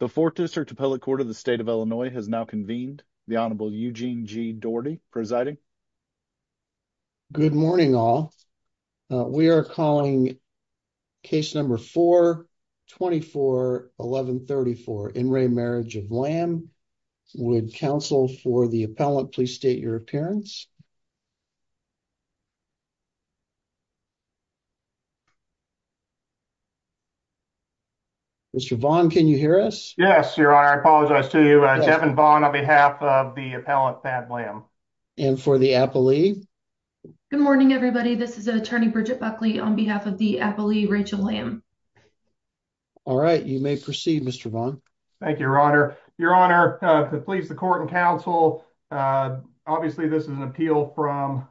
The Fourth District Appellate Court of the State of Illinois has now convened. The Honorable Eugene G. Doherty presiding. Good morning all. We are calling case number 4-24-1134, In Re Marriage of Lamb. Would counsel for the appellant please state your appearance. Mr. Vaughn, can you hear us? Yes, Your Honor. I apologize to you. Devon Vaughn on behalf of the appellant, Fab Lamb. And for the appellee? Good morning everybody. This is Attorney Bridget Buckley on behalf of the appellee, Rachel Lamb. All right. You may proceed, Mr. Vaughn. Thank you, Your Honor. Your Honor, to please the court and counsel. Obviously, this is an appeal from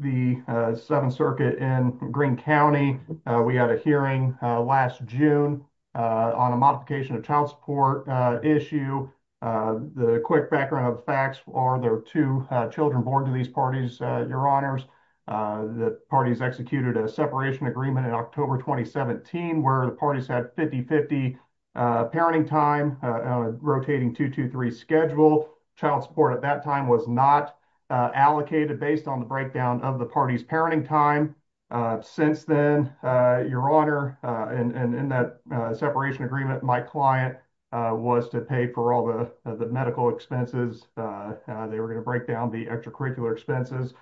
the Seventh Circuit in Greene County. We had a hearing last June on a modification of child support issue. The quick background of facts are there are two children born to these parties, Your Honors. The parties executed a separation agreement in October 2017 where the parties had 50-50 parenting time on a rotating 2-2-3 schedule. Child support at that time was not allocated based on the breakdown of the parties' parenting time. Since then, Your Honor, in that separation agreement, my client was to pay for all the medical expenses. They were going to break down the extracurricular expenses.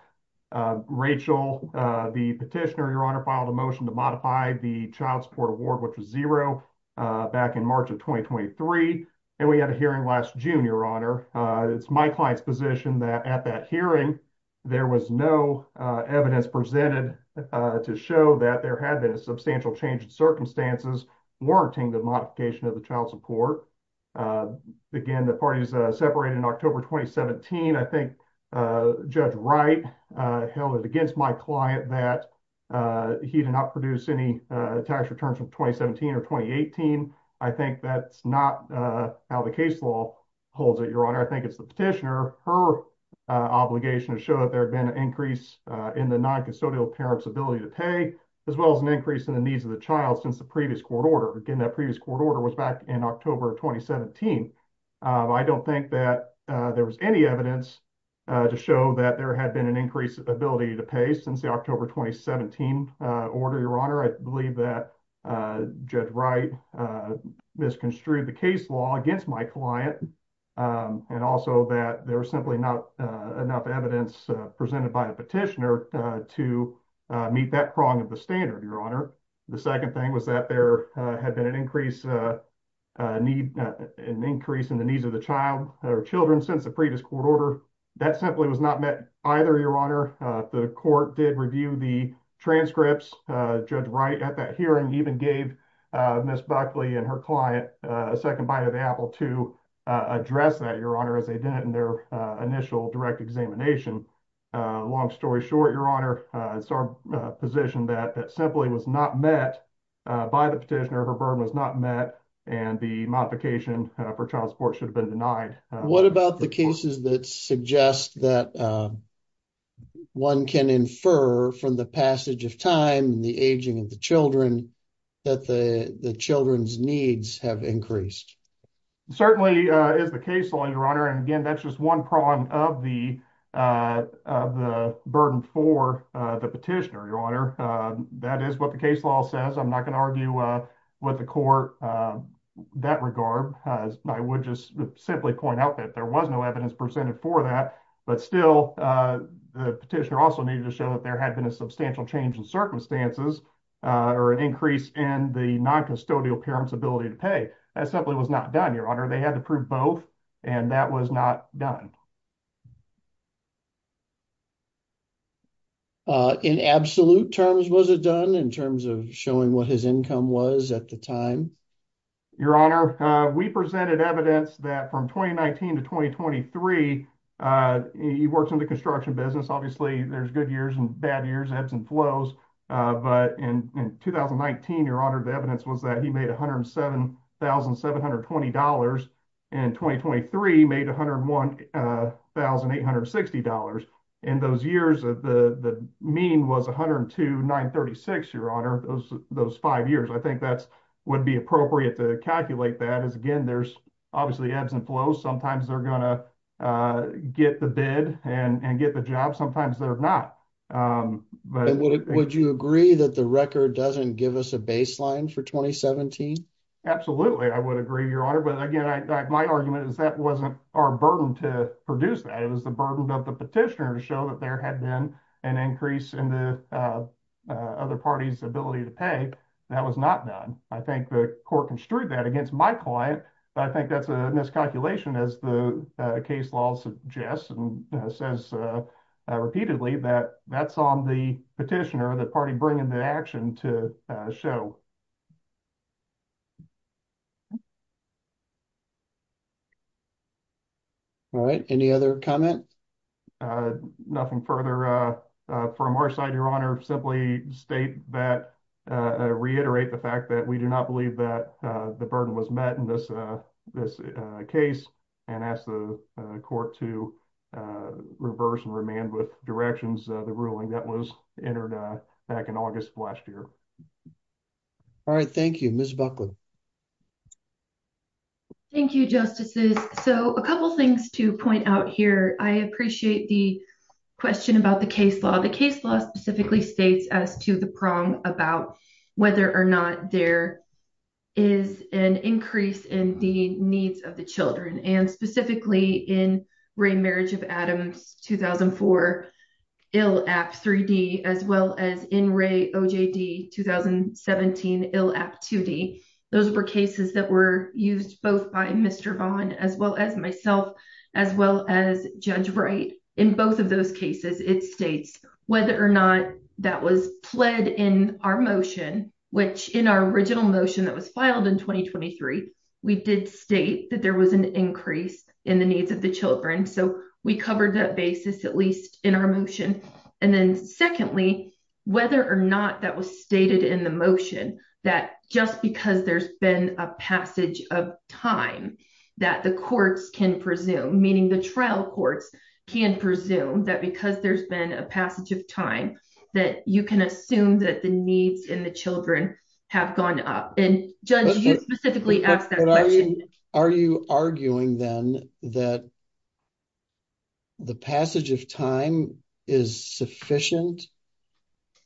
Rachel, the petitioner, Your Honor, filed a motion to modify the child support award, which was zero, back in March of 2023. And we had a hearing last June, Your Honor. It's my client's position that at that hearing, there was no evidence presented to show that there had been a substantial change in circumstances warranting the modification of the child support. Again, the parties separated in October 2017. I think Judge Wright held it against my client that he did not produce any tax returns from 2017 or 2018. I think that's not how the case law holds it, Your Honor. I think it's the petitioner. Her obligation is to show that there had been an increase in the noncustodial parent's ability to pay, as well as an increase in the needs of the child since the previous court order. Again, that previous court order was back in October 2017. I don't think that there was any evidence to show that there had been an increased ability to pay since the October 2017 order, Your Honor. I believe that Judge Wright misconstrued the case law against my client, and also that there was simply not enough evidence presented by the petitioner to meet that prong of the standard, Your Honor. The second thing was that there had been an increase in the needs of the child or children since the previous court order. That simply was not met either, Your Honor. The court did review the transcripts. Judge Wright, at that hearing, even gave Ms. Buckley and her client a second bite of the apple to address that, Your Honor, as they did it in their initial direct examination. Long story short, Your Honor, it's our position that that simply was not met by the petitioner. Her burden was not met, and the modification for child support should have been denied. What about the cases that suggest that one can infer from the passage of time and the aging of the children that the children's needs have increased? Certainly is the case law, Your Honor. And again, that's just one prong of the burden for the petitioner, Your Honor. That is what the case law says. I'm not going to argue with the court that regard. I would just simply point out that there was no evidence presented for that. But still, the petitioner also needed to show that there had been a substantial change in circumstances or an increase in the noncustodial parent's ability to pay. That simply was not done, Your Honor. They had to prove both, and that was not done. In absolute terms, was it done in terms of showing what his income was at the time? Your Honor, we presented evidence that from 2019 to 2023, he worked in the construction business. Obviously, there's good years and bad years, ebbs and flows. But in 2019, Your Honor, the evidence was that he made $107,720. In 2023, he made $101,860. In those years, the mean was $102,936, Your Honor, those five years. Would it be appropriate to calculate that? Obviously, there's ebbs and flows. Sometimes, they're going to get the bid and get the job. Sometimes, they're not. Would you agree that the record doesn't give us a baseline for 2017? Absolutely, I would agree, Your Honor. My argument is that wasn't our burden to produce that. It was the burden of the petitioner to show that there had been an increase in the other party's ability to pay. That was not done. I think the court construed that against my client. I think that's a miscalculation as the case law suggests and says repeatedly that that's on the petitioner, the party bringing the action to show. All right, any other comment? Nothing further from our side, Your Honor. Simply state that, reiterate the fact that we do not believe that the burden was met in this case and ask the court to reverse and remand with directions the ruling that was entered back in August of last year. All right, thank you. Ms. Buckland. Thank you, Justices. A couple things to point out here. I appreciate the question about the case law. The case law specifically states as to the prong about whether or not there is an increase in the needs of the children and specifically in Ray Marriage of Adams 2004 ill app 3D as well as in Ray OJD 2017 ill app 2D. Those were cases that were used both by Mr. Vaughn as well as myself as well as Judge Wright. In both of those cases, it states whether or not that was pled in our motion, which in our original motion that was filed in 2023, we did state that there was an increase in the needs of the children. So we covered that basis at least in our motion. And then secondly, whether or not that was stated in the motion that just because there's been a passage of time that the courts can presume, meaning the trial courts can presume that because there's been a passage of time, that you can assume that the needs in the children have gone up. And Judge, you specifically asked that question. Are you arguing then that the passage of time is sufficient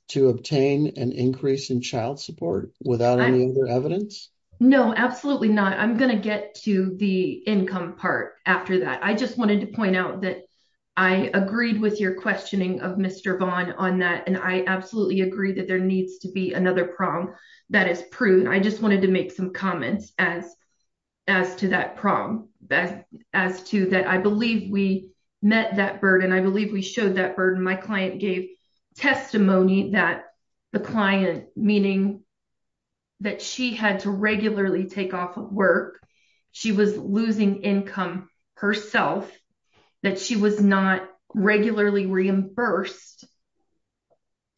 to obtain an increase in child support without any other evidence? No, absolutely not. I'm going to get to the income part after that. I just wanted to point out that I agreed with your questioning of Mr. Vaughn on that. And I absolutely agree that there needs to be another prom that is prune. I just wanted to make some comments as to that prom. As to that, I believe we met that burden. I believe we showed that burden. My client gave testimony that the client, meaning that she had to regularly take off of work, she was losing income herself, that she was not regularly reimbursed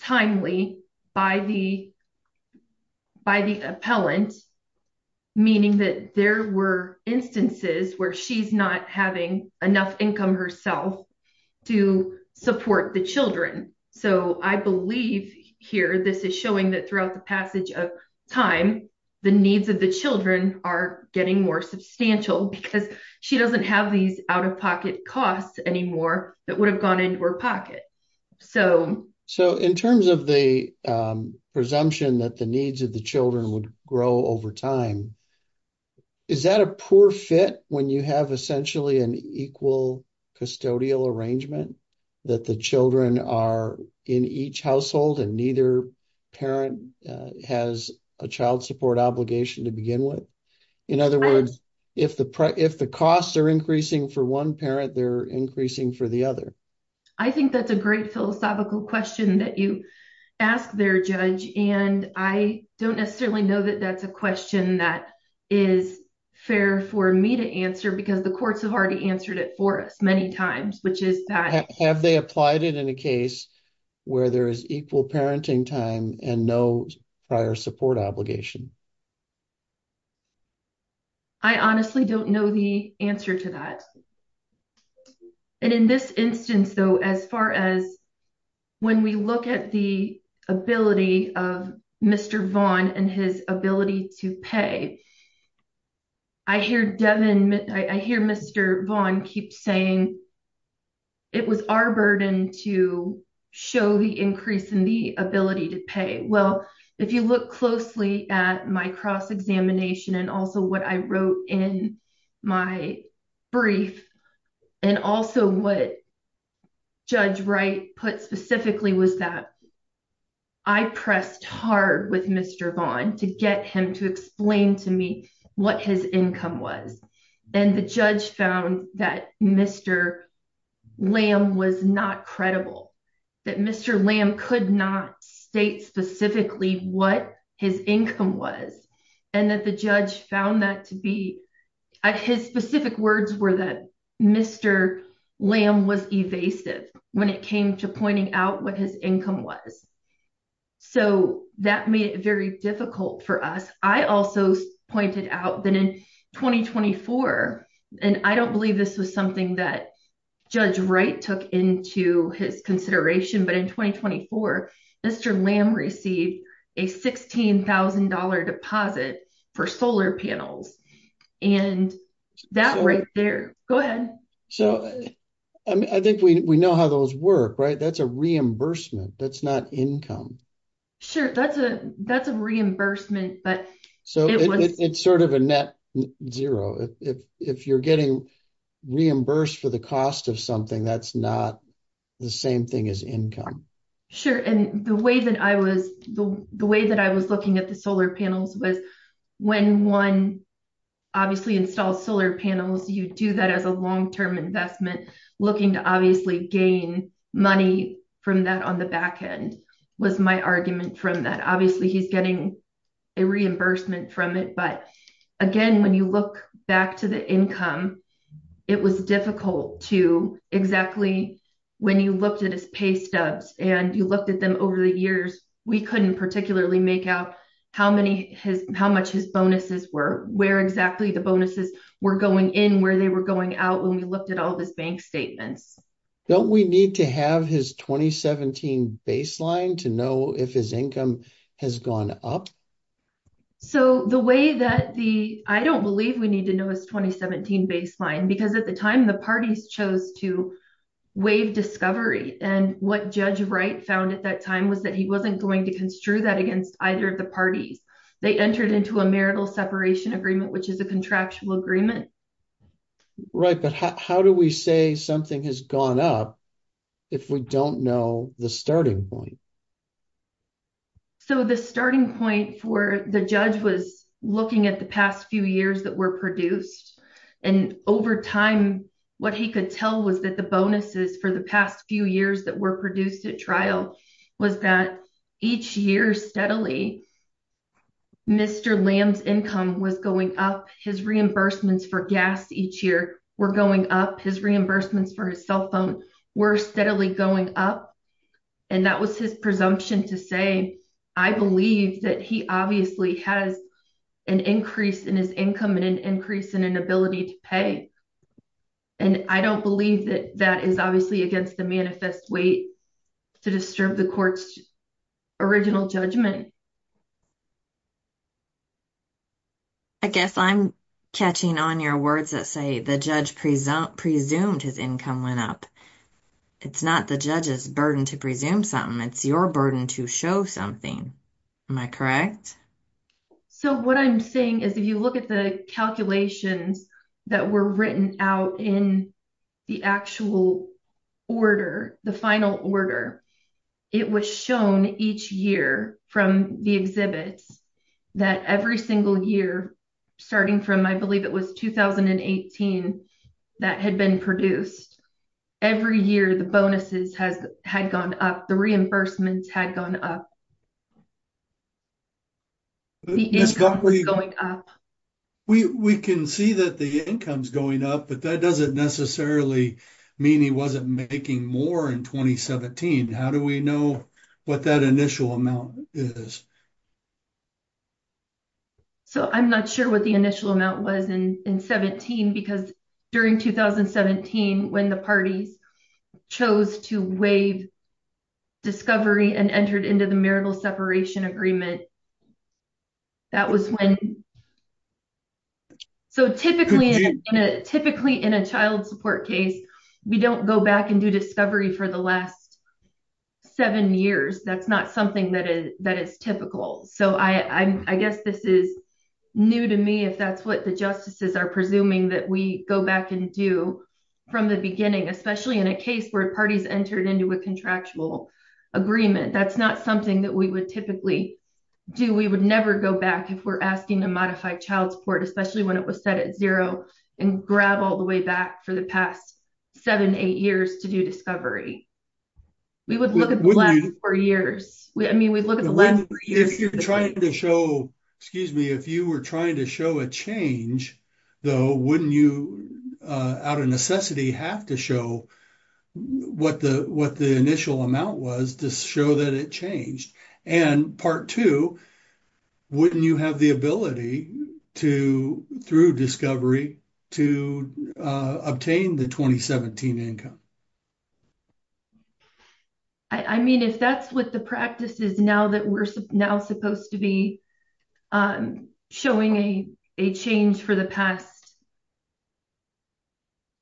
timely by the appellant, meaning that there were instances where she's not having enough income herself to support the children. So, I believe here this is showing that throughout the passage of time, the needs of the children are getting more substantial because she doesn't have these out-of-pocket costs anymore that would have gone into her pocket. So, in terms of the presumption that the needs of the children would grow over time, is that a poor fit when you have essentially an equal custodial arrangement that the children are in each household and neither parent has a child support obligation to begin with? In other words, if the costs are increasing for one parent, they're increasing for the other. I think that's a great philosophical question that you asked there, Judge. And I don't necessarily know that that's a question that is fair for me to answer because the courts have already answered it for us many times, which is that... Have they applied it in a case where there is equal parenting time and no prior support obligation? I honestly don't know the answer to that. And in this instance, though, as far as when we look at the ability of Mr. Vaughn and his ability to pay, I hear Mr. Vaughn keep saying, it was our burden to show the increase in the ability to pay. Well, if you look closely at my cross-examination and also what I wrote in my brief, and also what Judge Wright put specifically, was that I pressed hard with Mr. Vaughn to get him to explain to me what his income was. And the judge found that Mr. Lamb was not credible, that Mr. Lamb could not state specifically what his income was, and that the judge found that to be... His specific words were that Mr. Lamb was evasive when it came to pointing out what his income was. So that made it very difficult for us. I also pointed out that in 2024, and I don't believe this was something that Judge Wright took into his consideration, but in 2024, Mr. Lamb received a $16,000 deposit for solar panels. And that right there... Go ahead. So I think we know how those work, right? That's a reimbursement. That's not income. Sure, that's a reimbursement, but... So it's sort of a net zero. If you're getting reimbursed for the cost of something, that's not the same thing as income. Sure, and the way that I was looking at the solar panels was, when one obviously installs solar panels, you do that as a long-term investment, looking to obviously gain money from that on the back end, was my argument from that. Obviously, he's getting a reimbursement from it. But again, when you look back to the income, it was difficult to exactly... When you looked at his pay stubs and you looked at them over the years, we couldn't particularly make out how much his bonuses were, where exactly the bonuses were going in, where they were going out, when we looked at all of his bank statements. Don't we need to have his 2017 baseline to know if his income has gone up? So the way that the... I don't believe we need to know his 2017 baseline, because at the time the parties chose to waive discovery. And what Judge Wright found at that time was that he wasn't going to construe that against either of the parties. They entered into a marital separation agreement, which is a contractual agreement. Right, but how do we say something has gone up if we don't know the starting point? So the starting point for the judge was looking at the past few years that were produced. And over time, what he could tell was that the bonuses for the past few years that were produced at trial was that each year steadily, Mr. Lamb's income was going up. His reimbursements for gas each year were going up. His reimbursements for his cell phone were steadily going up. And that was his presumption to say, I believe that he obviously has an increase in his income and an increase in inability to pay. And I don't believe that that is obviously against the manifest way to disturb the court's original judgment. I guess I'm catching on your words that say the judge presumed his income went up. It's not the judge's burden to presume something. It's your burden to show something. Am I correct? So what I'm saying is if you look at the calculations that were written out in the actual order, the final order, it was shown each year from the beginning of the trial the exhibits that every single year, starting from, I believe it was 2018, that had been produced. Every year, the bonuses had gone up. The reimbursements had gone up. The income was going up. We can see that the income's going up, but that doesn't necessarily mean he wasn't making more in 2017. How do we know what that initial amount is? So I'm not sure what the initial amount was in 17 because during 2017, when the parties chose to waive discovery and entered into the marital separation agreement, that was when... So typically in a child support case, we don't go back and do discovery for the last seven years. That's not something that is typical. So I guess this is new to me if that's what the justices are presuming that we go back and do from the beginning, especially in a case where parties entered into a contractual agreement. That's not something that we would typically do. We would never go back if we're asking to modify child support, especially when it was set at zero and grab all the way back for the past seven, eight years to do discovery. We would look at the last four years. I mean, we'd look at the last three years. If you're trying to show, excuse me, if you were trying to show a change though, wouldn't you out of necessity have to show what the initial amount was to show that it changed? And part two, wouldn't you have the ability to, through discovery, to obtain the 2017 income? I mean, if that's what the practice is now that we're now supposed to be showing a change for the past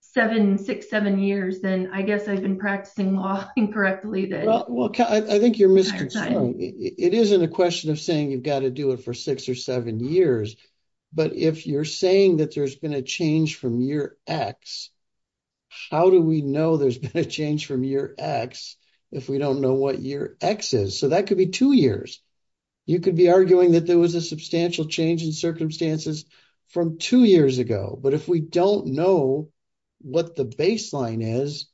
seven, six, seven years, then I guess I've been practicing law incorrectly. Well, I think you're misconstruing. It isn't a question of saying you've got to do it for six or seven years. But if you're saying that there's been a change from year X, how do we know there's been a change from year X if we don't know what year X is? So that could be two years. You could be arguing that there was a substantial change in circumstances from two years ago. But if we don't know what the baseline is,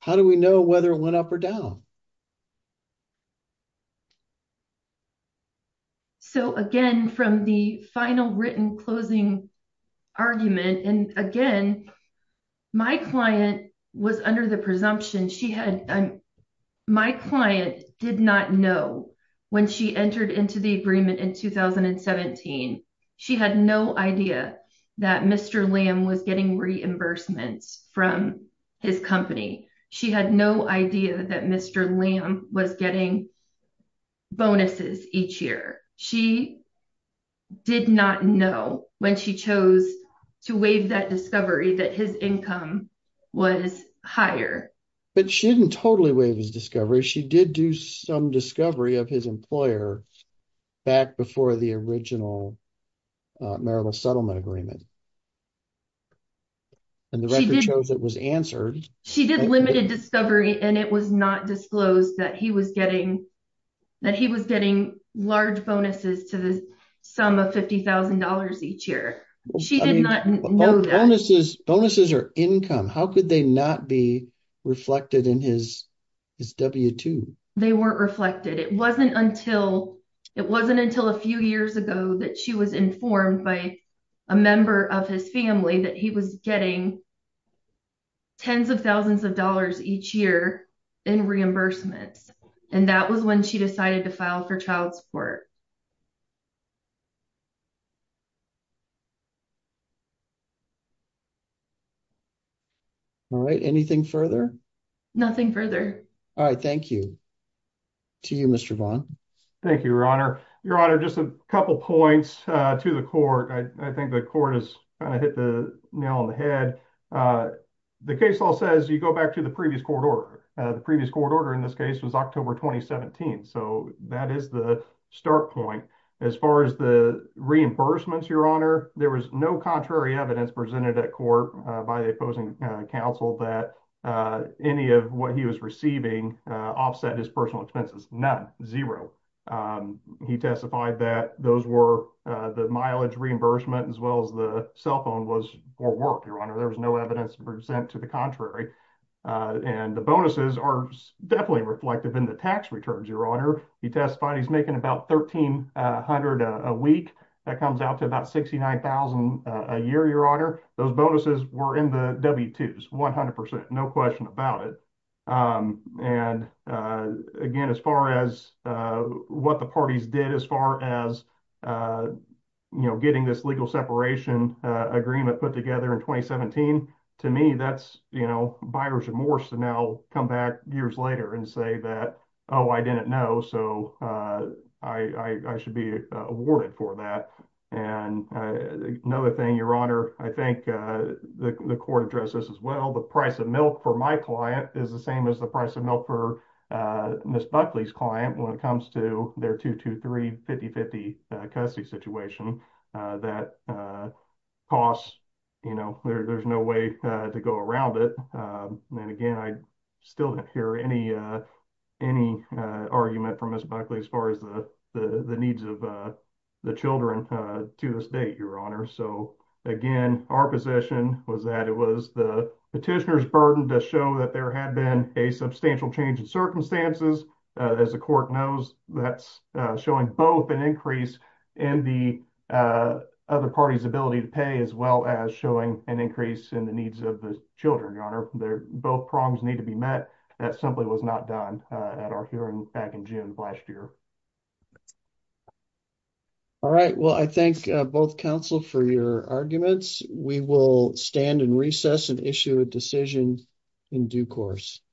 how do we know whether it went up or down? So again, from the final written closing argument, and again, my client was under the presumption, she had, my client did not know when she entered into the agreement in 2017. She had no idea that Mr. Liam was getting reimbursements from his company. She had no idea that Mr. Liam was getting bonuses each year. She did not know when she chose to waive that discovery that his income was higher. But she didn't totally waive his discovery. She did do some discovery of his employer back before the original marital settlement agreement. And the record shows it was answered. She did limited discovery and it was not disclosed that he was getting, that he was getting large bonuses to the sum of $50,000 each year. She did not know that. Bonuses are income. How could they not be reflected in his W-2? They weren't reflected. It wasn't until a few years ago that she was informed by a member of his family that he was getting tens of thousands of dollars each year in reimbursements. And that was when she decided to file for child support. All right, anything further? Nothing further. All right, thank you. To you, Mr. Vaughn. Thank you, Your Honor. Your Honor, just a couple of points to the court. I think the court has kind of hit the nail on the head. The case law says you go back to the previous court order. The previous court order in this case was October 2017. So that is the start point. As far as the reimbursements, Your Honor, there was no contrary evidence presented at court by the opposing counsel that any of what he was receiving offset his personal expenses. None, zero. He testified that those were the mileage reimbursement as well as the cell phone was for work, Your Honor. There was no evidence to present to the contrary. And the bonuses are definitely reflective in the tax returns, Your Honor. He testified he's making about $1,300 a week. That comes out to about $69,000 a year, Your Honor. Those bonuses were in the W-2s, 100%, no question about it. And again, as far as what the parties did, as far as getting this legal separation agreement put together in 2017, to me, that's buyer's remorse to now come back years later and say that, oh, I didn't know, so I should be awarded for that. And another thing, Your Honor, I think the court addressed this as well. The price of milk for my client is the same as the price of milk for Ms. Buckley's client when it comes to their 223-5050 custody situation. That costs, there's no way to go around it. And again, I still didn't hear any argument from Ms. Buckley as far as the needs of the children to this date, Your Honor. So again, our position was that the petitioner's burden to show that there had been a substantial change in circumstances. As the court knows, that's showing both an increase in the other party's ability to pay as well as showing an increase in the needs of the children, Your Honor. Both prongs need to be met. That simply was not done at our hearing back in June of last year. All right, well, I thank both counsel for your arguments. We will stand and recess and issue a decision in due course.